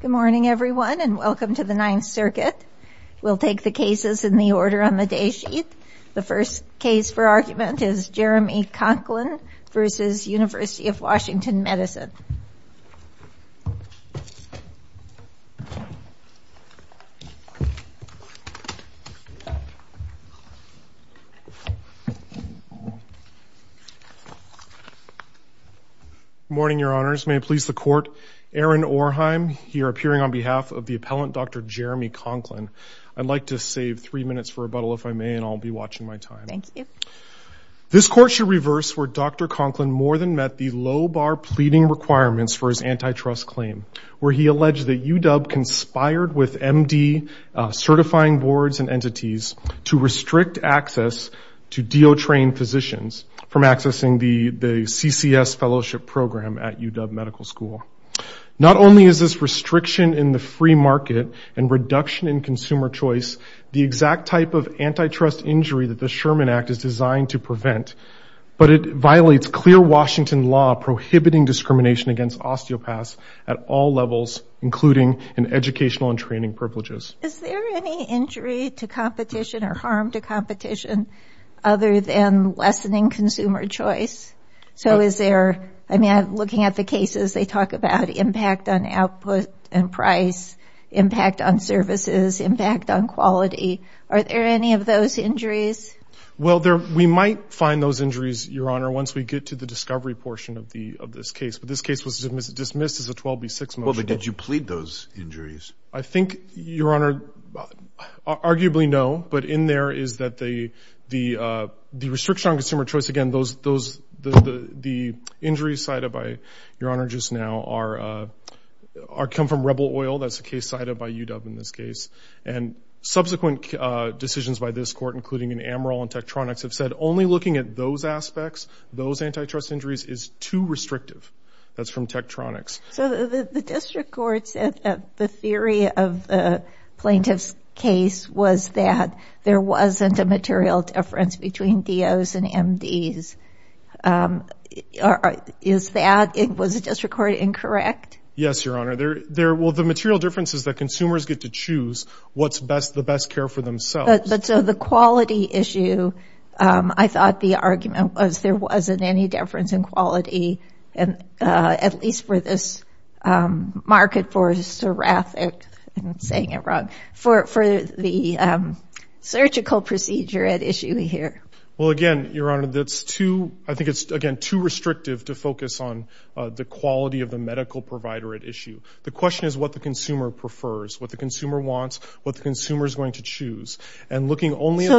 Good morning, everyone, and welcome to the Ninth Circuit. We'll take the cases in the order on the day sheet. The first case for argument is Jeremy Conklin v. Univ. of Wash. Medicine. Good morning, Your Honors. May it please the Court, Aaron Orheim, here appearing on behalf of the appellant, Dr. Jeremy Conklin. I'd like to save three minutes for rebuttal, if I may, and I'll be watching my time. Thank you. This Court should reverse where Dr. Conklin more than met the low-bar pleading requirements for his antitrust claim, where he alleged that UW conspired with MD certifying boards and entities to restrict access to DO-trained physicians from accessing the CCS fellowship program at UW Medical School. Not only is this restriction in the free market and reduction in consumer choice the exact type of antitrust injury that the Sherman Act is designed to prevent, but it violates clear Washington law prohibiting discrimination against osteopaths at all levels, including in educational and training privileges. Is there any injury to competition or harm to competition other than lessening consumer choice? So is there, I mean, looking at the cases, they talk about impact on output and price, impact on services, impact on quality. Are there any of those injuries? Well, we might find those injuries, Your Honor, once we get to the discovery portion of this case, but this case was dismissed as a 12B6 motion. Well, but did you plead those injuries? I think, Your Honor, arguably no, but in there is that the restriction on consumer choice, again, the injuries cited by Your Honor just now come from Rebel Oil. That's a case cited by UW in this case. And subsequent decisions by this court, including in Amaral and Tektronix, have said only looking at those aspects, those antitrust injuries, is too restrictive. That's from Tektronix. So the district court said that the theory of the plaintiff's case was that there wasn't a material difference between DOs and MDs. Is that, was the district court incorrect? Yes, Your Honor. Well, the material difference is that consumers get to choose what's the best care for themselves. But so the quality issue, I thought the argument was there wasn't any difference in quality, at least for this market for seraphic, I'm saying it wrong, for the surgical procedure at issue here. Well, again, Your Honor, that's too, I think it's, again, too restrictive to focus on the quality of the medical provider at issue. The question is what the consumer prefers, what the consumer wants, what the consumer is going to choose. And looking only at the-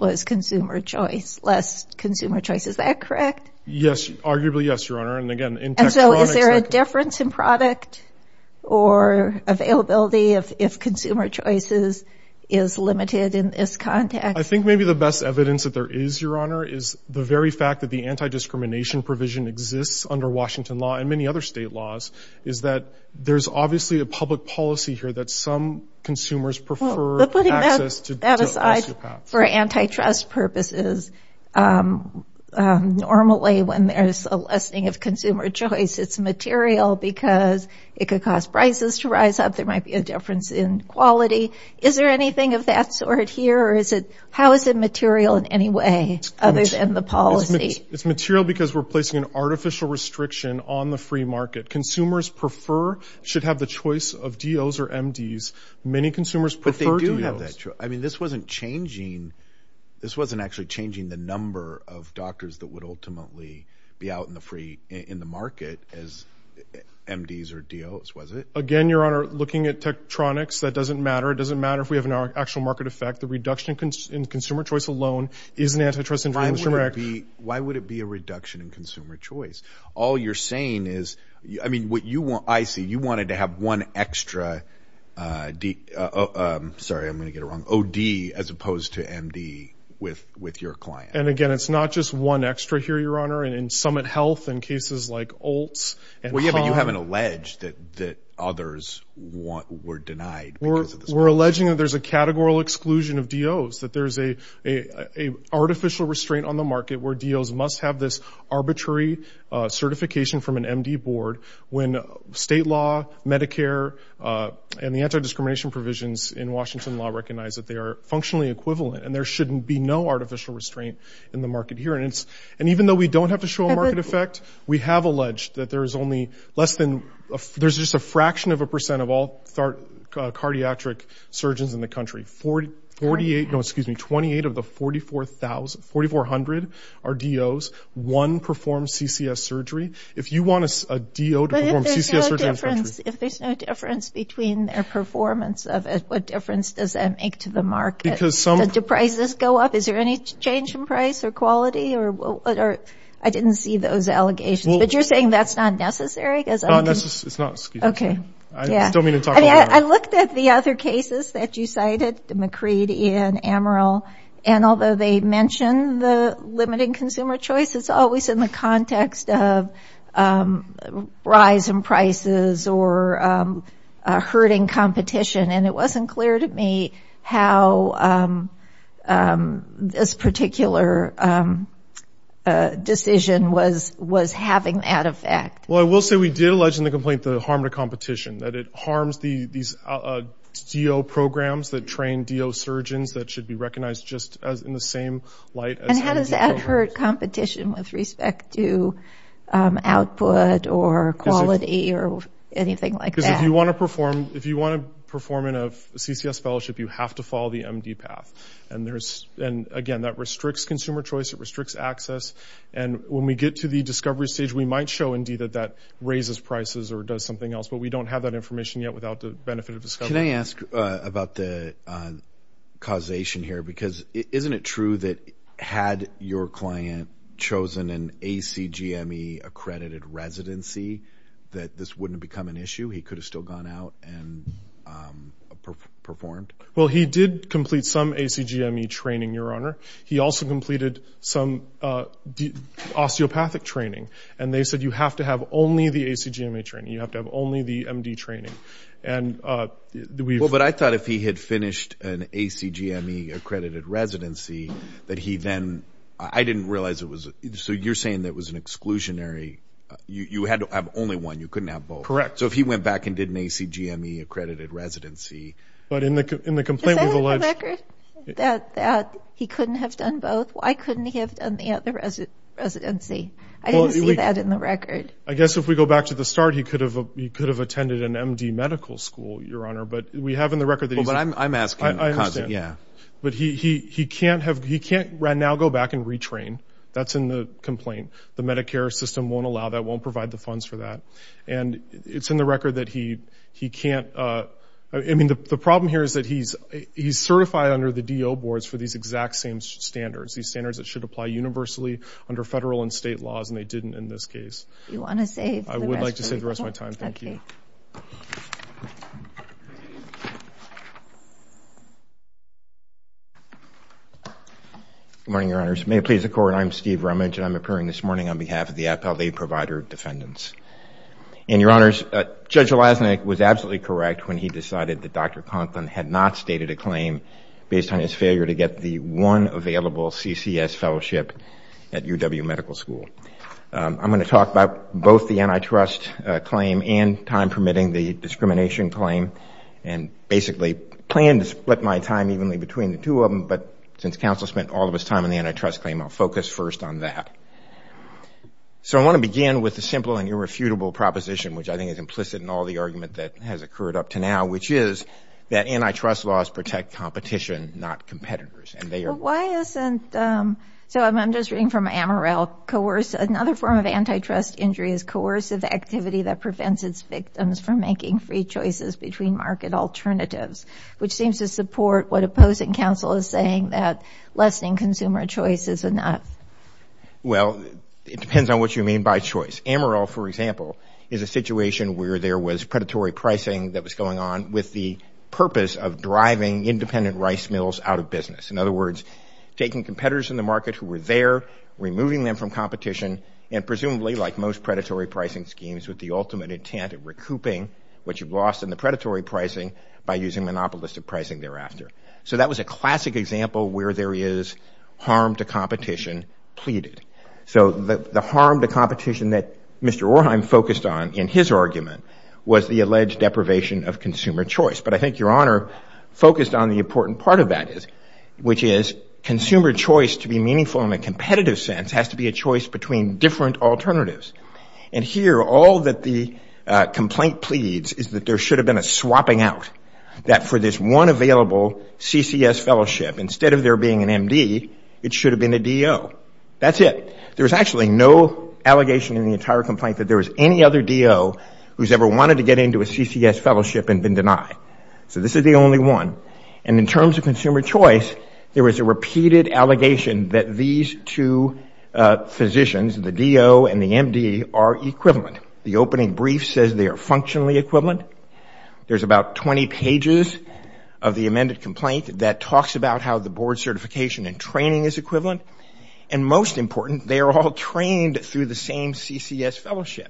was consumer choice, less consumer choice. Is that correct? Yes, arguably yes, Your Honor. And, again, in Tektronix- And so is there a difference in product or availability if consumer choice is limited in this context? I think maybe the best evidence that there is, Your Honor, is the very fact that the anti-discrimination provision exists under Washington law and many other state laws is that there's obviously a public policy here that some consumers prefer- Well, putting that aside for antitrust purposes, normally when there's a lessening of consumer choice, it's material because it could cause prices to rise up, there might be a difference in quality. Is there anything of that sort here, or is it, how is it material in any way other than the policy? It's material because we're placing an artificial restriction on the free market. Consumers prefer, should have the choice of DOs or MDs. Many consumers prefer DOs. But they do have that choice. I mean, this wasn't changing, this wasn't actually changing the number of doctors that would ultimately be out in the free, in the market as MDs or DOs, was it? Again, Your Honor, looking at Tektronix, that doesn't matter. It doesn't matter if we have an actual market effect. The reduction in consumer choice alone is an antitrust infringement. Why would it be a reduction in consumer choice? All you're saying is, I mean, what you want, I see, you wanted to have one extra, sorry, I'm going to get it wrong, OD as opposed to MD with your client. And, again, it's not just one extra here, Your Honor. In Summit Health and cases like Oltz and Haan. Well, yeah, but you haven't alleged that others were denied because of this policy. We're alleging that there's a categorical exclusion of DOs, that there's an artificial restraint on the market where DOs must have this arbitrary certification from an MD board when state law, Medicare, and the anti-discrimination provisions in Washington law recognize that they are functionally equivalent and there shouldn't be no artificial restraint in the market here. And even though we don't have to show a market effect, we have alleged that there's only less than, there's just a fraction of a percent of all cardiac surgeons in the country. Forty-eight, no, excuse me, 28 of the 44,000, 4,400 are DOs. One performs CCS surgery. If you want a DO to perform CCS surgery in the country. But if there's no difference between their performance of it, what difference does that make to the market? Because some... Do prices go up? Is there any change in price or quality? I didn't see those allegations. But you're saying that's not necessary? It's not necessary. It's not, excuse me. Okay. Yeah. I looked at the other cases that you cited, McCreed, Ian, Amaral, and although they mention the limiting consumer choice, it's always in the context of rise in prices or hurting competition. And it wasn't clear to me how this particular decision was having that effect. Well, I will say we did allege in the complaint the harm to competition, that it harms these DO programs that train DO surgeons that should be recognized just in the same light as MD programs. And how does that hurt competition with respect to output or quality or anything like that? Because if you want to perform in a CCS fellowship, you have to follow the MD path. And, again, that restricts consumer choice. It restricts access. And when we get to the discovery stage, we might show, indeed, that that raises prices or does something else. But we don't have that information yet without the benefit of discovery. Can I ask about the causation here? Because isn't it true that had your client chosen an ACGME-accredited residency that this wouldn't have become an issue? He could have still gone out and performed? Well, he did complete some ACGME training, Your Honor. He also completed some osteopathic training. And they said you have to have only the ACGME training. You have to have only the MD training. But I thought if he had finished an ACGME-accredited residency that he then – I didn't realize it was – so you're saying that it was an exclusionary. You had to have only one. You couldn't have both. Correct. So if he went back and did an ACGME-accredited residency. But in the complaint we've alleged – Is that in the record that he couldn't have done both? Why couldn't he have done the other residency? I didn't see that in the record. I guess if we go back to the start, he could have attended an MD medical school, Your Honor. But we have in the record that he's – Well, but I'm asking. I understand. Yeah. But he can't have – he can't now go back and retrain. That's in the complaint. The Medicare system won't allow that, won't provide the funds for that. And it's in the record that he can't – I mean, the problem here is that he's certified under the DO boards for these exact same standards, these standards that should apply universally under federal and state laws, and they didn't in this case. You want to save the rest of your time? I would like to save the rest of my time. Thank you. Okay. Good morning, Your Honors. May it please the Court, I'm Steve Rumage, and I'm appearing this morning on behalf of the Appellate Aid Provider Defendants. And, Your Honors, Judge Lasnik was absolutely correct when he decided that Dr. Conklin had not stated a claim based on his failure to get the one available CCS fellowship at UW Medical School. I'm going to talk about both the antitrust claim and time permitting the discrimination claim and basically plan to split my time evenly between the two of them. But since counsel spent all of his time on the antitrust claim, I'll focus first on that. So I want to begin with a simple and irrefutable proposition, which I think is implicit in all the argument that has occurred up to now, which is that antitrust laws protect competition, not competitors. So I'm just reading from Amaral. Another form of antitrust injury is coercive activity that prevents its victims from making free choices between market alternatives, which seems to support what opposing counsel is saying that lessening consumer choice is enough. Well, it depends on what you mean by choice. Amaral, for example, is a situation where there was predatory pricing that was going on with the purpose of driving independent rice mills out of business. In other words, taking competitors in the market who were there, removing them from competition, and presumably, like most predatory pricing schemes, with the ultimate intent of recouping what you've lost in the predatory pricing by using monopolistic pricing thereafter. So that was a classic example where there is harm to competition pleaded. So the harm to competition that Mr. Orheim focused on in his argument was the alleged deprivation of consumer choice. But I think Your Honor focused on the important part of that, which is consumer choice to be meaningful in a competitive sense has to be a choice between different alternatives. And here, all that the complaint pleads is that there should have been a swapping out, that for this one available CCS fellowship, instead of there being an MD, it should have been a DO. That's it. There was actually no allegation in the entire complaint that there was any other DO who's ever wanted to get into a CCS fellowship and been denied. So this is the only one. And in terms of consumer choice, there was a repeated allegation that these two physicians, the DO and the MD, are equivalent. The opening brief says they are functionally equivalent. There's about 20 pages of the amended complaint that talks about how the board certification and training is equivalent. And most important, they are all trained through the same CCS fellowship.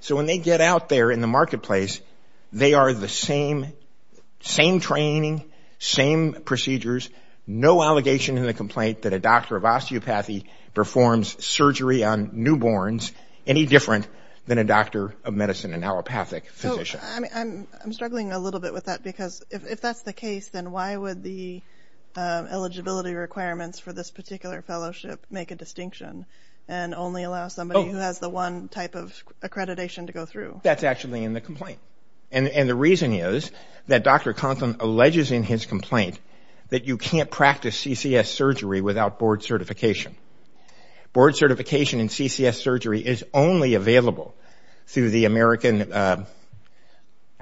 So when they get out there in the marketplace, they are the same training, same procedures, no allegation in the complaint that a doctor of osteopathy performs surgery on newborns any different than a doctor of medicine, an allopathic physician. I'm struggling a little bit with that because if that's the case, then why would the eligibility requirements for this particular fellowship make a distinction and only allow somebody who has the one type of accreditation to go through? That's actually in the complaint. And the reason is that Dr. Conson alleges in his complaint that you can't practice CCS surgery without board certification. Board certification in CCS surgery is only available through the American, I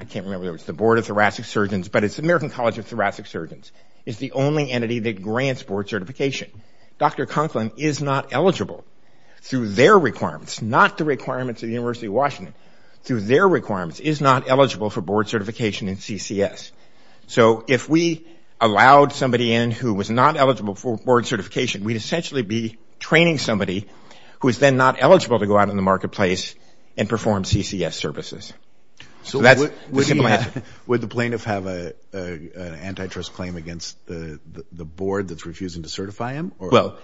can't remember if it's the Board of Thoracic Surgeons, but it's the American College of Thoracic Surgeons, is the only entity that grants board certification. Dr. Conklin is not eligible through their requirements, not the requirements of the University of Washington, through their requirements is not eligible for board certification in CCS. So if we allowed somebody in who was not eligible for board certification, we'd essentially be training somebody who is then not eligible to go out in the marketplace and perform CCS services. So that's the simple answer. Would the plaintiff have an antitrust claim against the board that's refusing to certify him? Well,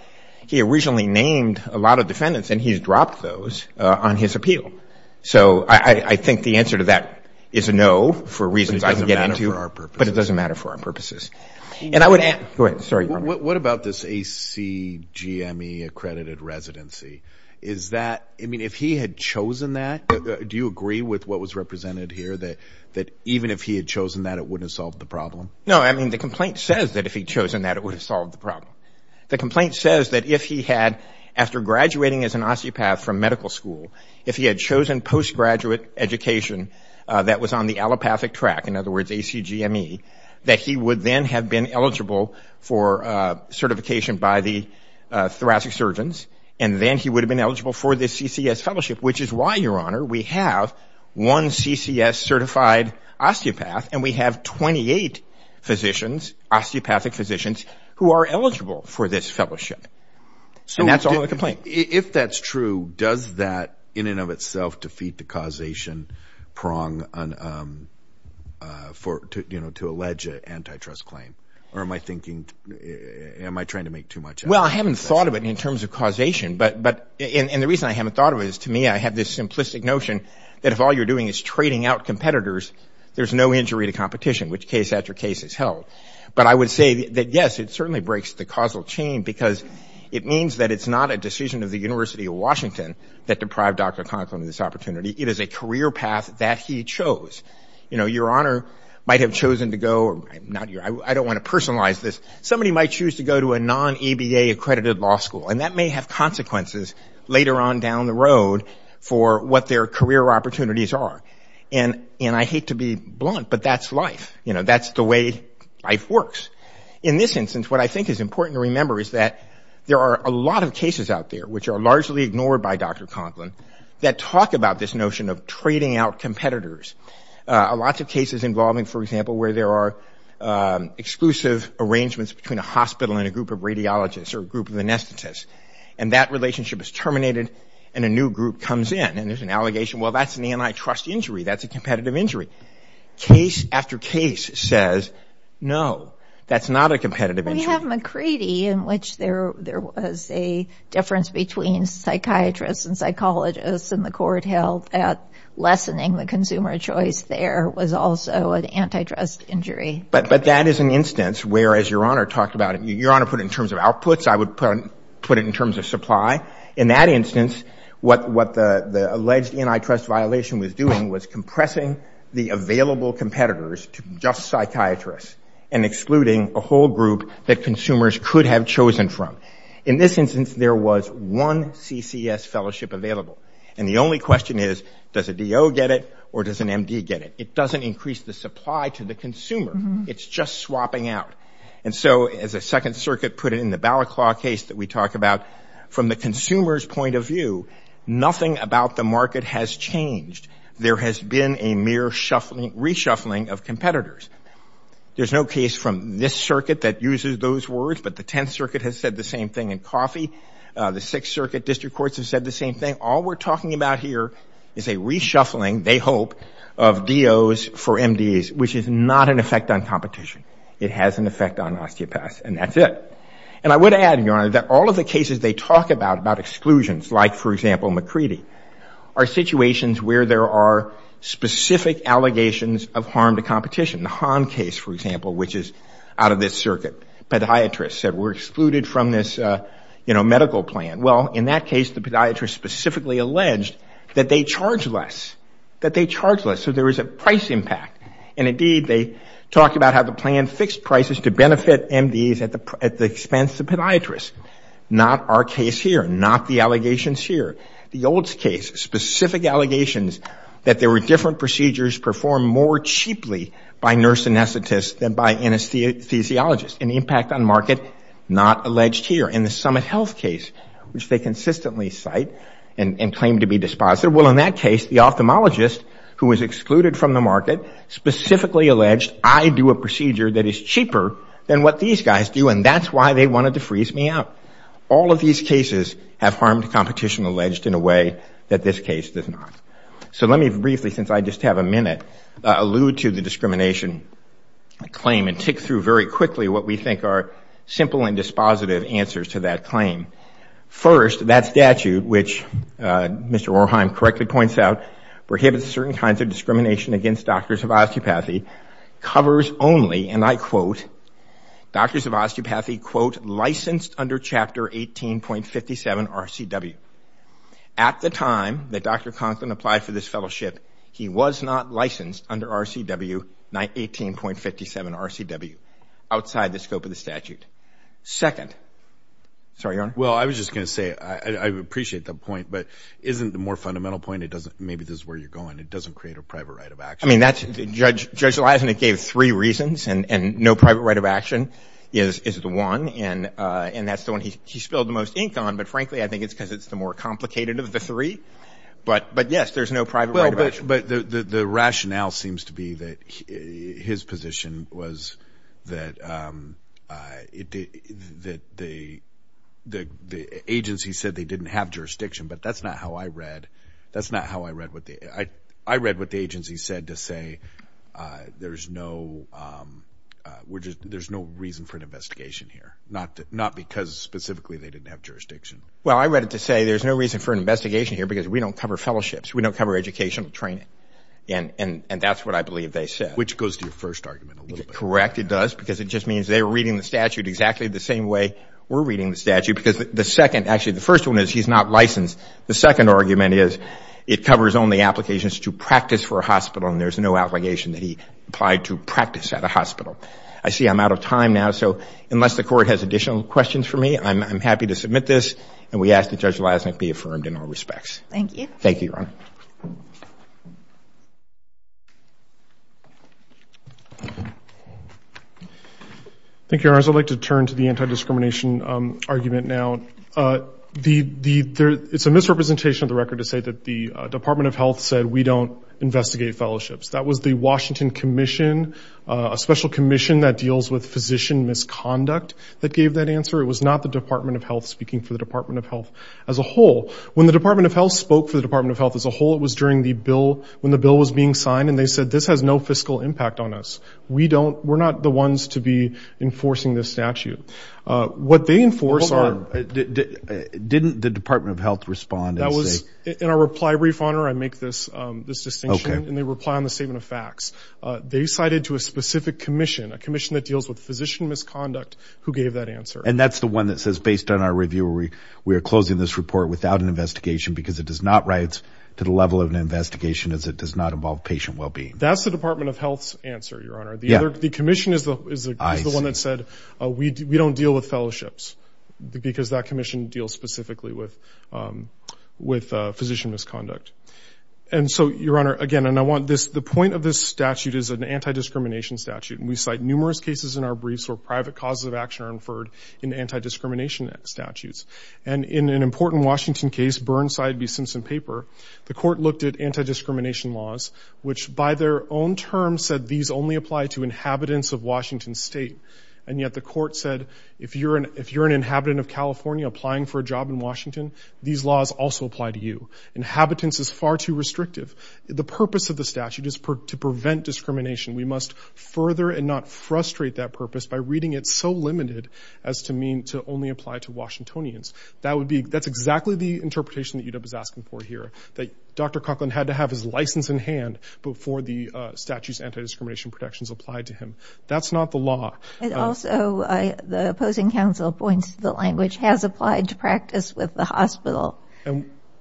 he originally named a lot of defendants and he's dropped those on his appeal. So I think the answer to that is a no for reasons I didn't get into. But it doesn't matter for our purposes. But it doesn't matter for our purposes. And I would ask, go ahead, sorry, Robert. What about this ACGME accredited residency? Is that, I mean, if he had chosen that, do you agree with what was represented here, that even if he had chosen that, it wouldn't have solved the problem? No, I mean, the complaint says that if he had chosen that, it would have solved the problem. The complaint says that if he had, after graduating as an osteopath from medical school, if he had chosen post-graduate education that was on the allopathic track, in other words, ACGME, that he would then have been eligible for certification by the thoracic surgeons. And then he would have been eligible for the CCS fellowship, which is why, Your Honor, we have one CCS certified osteopath and we have 28 physicians, osteopathic physicians, who are eligible for this fellowship. And that's all in the complaint. If that's true, does that in and of itself defeat the causation prong to allege an antitrust claim? Or am I thinking, am I trying to make too much of it? Well, I haven't thought of it in terms of causation, but the reason I haven't thought of it is to me I have this simplistic notion that if all you're doing is trading out competitors, there's no injury to competition, which case after case is held. But I would say that, yes, it certainly breaks the causal chain because it means that it's not a decision of the University of Washington that deprived Dr. Conklin of this opportunity. It is a career path that he chose. You know, Your Honor might have chosen to go, I don't want to personalize this, somebody might choose to go to a non-EBA accredited law school, and that may have consequences later on down the road for what their career opportunities are. And I hate to be blunt, but that's life. You know, that's the way life works. In this instance, what I think is important to remember is that there are a lot of cases out there which are largely ignored by Dr. Conklin that talk about this notion of trading out competitors. Lots of cases involving, for example, where there are exclusive arrangements between a hospital and a group of radiologists or a group of anesthetists, and that relationship is terminated and a new group comes in, and there's an allegation, well, that's an antitrust injury, that's a competitive injury. Case after case says, no, that's not a competitive injury. We have McCready in which there was a difference between psychiatrists and psychologists, and the court held that lessening the consumer choice there was also an antitrust injury. But that is an instance where, as Your Honor talked about it, Your Honor put it in terms of outputs, I would put it in terms of supply. In that instance, what the alleged antitrust violation was doing was compressing the available competitors to just psychiatrists and excluding a whole group that consumers could have chosen from. In this instance, there was one CCS fellowship available. And the only question is, does a DO get it or does an MD get it? It doesn't increase the supply to the consumer. It's just swapping out. And so as the Second Circuit put it in the Balaclava case that we talk about, from the consumer's point of view, nothing about the market has changed. There has been a mere reshuffling of competitors. There's no case from this circuit that uses those words, but the Tenth Circuit has said the same thing in Coffey. The Sixth Circuit district courts have said the same thing. All we're talking about here is a reshuffling, they hope, of DOs for MDs, which is not an effect on competition. It has an effect on osteopaths, and that's it. And I would add, Your Honor, that all of the cases they talk about, about exclusions, like, for example, McCready, are situations where there are specific allegations of harm to competition. The Hahn case, for example, which is out of this circuit, podiatrists said we're excluded from this, you know, medical plan. Well, in that case, the podiatrist specifically alleged that they charge less, that they charge less. So there is a price impact. And indeed, they talk about how the plan fixed prices to benefit MDs at the expense of podiatrists. Not our case here, not the allegations here. The Olds case, specific allegations that there were different procedures performed more cheaply by nurse anesthetists than by anesthesiologists, an impact on market not alleged here. And the Summit Health case, which they consistently cite and claim to be dispositive, well, in that case, the ophthalmologist, who was excluded from the market, specifically alleged, I do a procedure that is cheaper than what these guys do, and that's why they wanted to freeze me out. All of these cases have harmed competition alleged in a way that this case does not. So let me briefly, since I just have a minute, allude to the discrimination claim and tick through very quickly what we think are simple and dispositive answers to that claim. First, that statute, which Mr. Orheim correctly points out, prohibits certain kinds of discrimination against doctors of osteopathy, covers only, and I quote, doctors of osteopathy, quote, licensed under Chapter 18.57 RCW. At the time that Dr. Conklin applied for this fellowship, he was not licensed under RCW, 18.57 RCW, outside the scope of the statute. Second, sorry, Your Honor. Well, I was just going to say, I appreciate the point, but isn't the more fundamental point, it doesn't, maybe this is where you're going, it doesn't create a private right of action. I mean, that's, Judge Leisenick gave three reasons, and no private right of action is the one, and that's the one he spilled the most ink on, but frankly, I think it's because it's the more complicated of the three. But yes, there's no private right of action. But the rationale seems to be that his position was that the agency said they didn't have jurisdiction, but that's not how I read, that's not how I read what the, I read what the agency said to say there's no, there's no reason for an investigation here, not because specifically they didn't have jurisdiction. Well, I read it to say there's no reason for an investigation here because we don't cover fellowships, we don't cover educational training, and that's what I believe they said. Which goes to your first argument a little bit. Correct, it does, because it just means they're reading the statute exactly the same way we're reading the statute, because the second, actually the first one is he's not licensed. The second argument is it covers only applications to practice for a hospital, and there's no obligation that he applied to practice at a hospital. I see I'm out of time now, so unless the Court has additional questions for me, I'm happy to submit this, and we ask that Judge Leisenick be affirmed in all respects. Thank you. Thank you, Your Honor. Thank you, Your Honor. I'd like to turn to the anti-discrimination argument now. It's a misrepresentation of the record to say that the Department of Health said we don't investigate fellowships. That was the Washington Commission, a special commission that deals with physician misconduct that gave that answer. It was not the Department of Health speaking for the Department of Health as a whole. When the Department of Health spoke for the Department of Health as a whole, it was during the bill, when the bill was being signed, and they said, this has no fiscal impact on us. We don't, we're not the ones to be enforcing this statute. What they enforce are. Hold on. Didn't the Department of Health respond and say. In our reply brief, Your Honor, I make this distinction. Okay. And they reply on the statement of facts. They cited to a specific commission, a commission that deals with physician misconduct, who gave that answer. And that's the one that says, based on our review, we are closing this report without an investigation, because it does not write to the level of an investigation as it does not involve patient well-being. That's the Department of Health's answer, Your Honor. Yeah. The commission is the one that said, we don't deal with fellowships, because that commission deals specifically with physician misconduct. And so, Your Honor, again, and I want this, the point of this statute is an anti-discrimination statute. And we cite numerous cases in our briefs where private causes of action are inferred in anti-discrimination statutes. And in an important Washington case, Burnside v. Simpson Paper, the court looked at anti-discrimination laws, which by their own terms said these only apply to inhabitants of Washington State. And yet the court said, if you're an inhabitant of California applying for a job in Washington, these laws also apply to you. Inhabitants is far too restrictive. The purpose of the statute is to prevent discrimination. We must further and not frustrate that purpose by reading it so limited as to mean to only apply to Washingtonians. That's exactly the interpretation that UW is asking for here, that Dr. Coughlin had to have his license in hand before the statute's anti-discrimination protections applied to him. That's not the law. And also, the opposing counsel points to the language, has applied to practice with the hospital.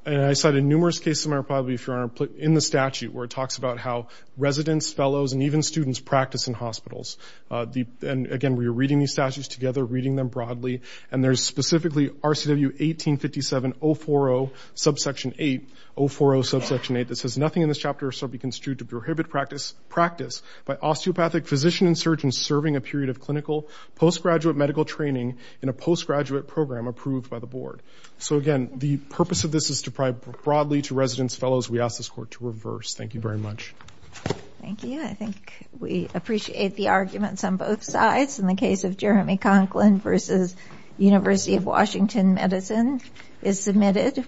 And I cited numerous cases in my reply brief, Your Honor, in the statute, where it talks about how residents, fellows, and even students practice in hospitals. And again, we are reading these statutes together, reading them broadly. And there's specifically RCW 1857.040 subsection 8, 040 subsection 8, that says nothing in this chapter shall be construed to prohibit practice by osteopathic physician and surgeon serving a period of clinical postgraduate medical training in a postgraduate program approved by the board. So again, the purpose of this is to provide broadly to residents, fellows, we ask this court to reverse. Thank you very much. Thank you. I think we appreciate the arguments on both sides in the case of Jeremy Coughlin versus University of Washington Medicine is submitted.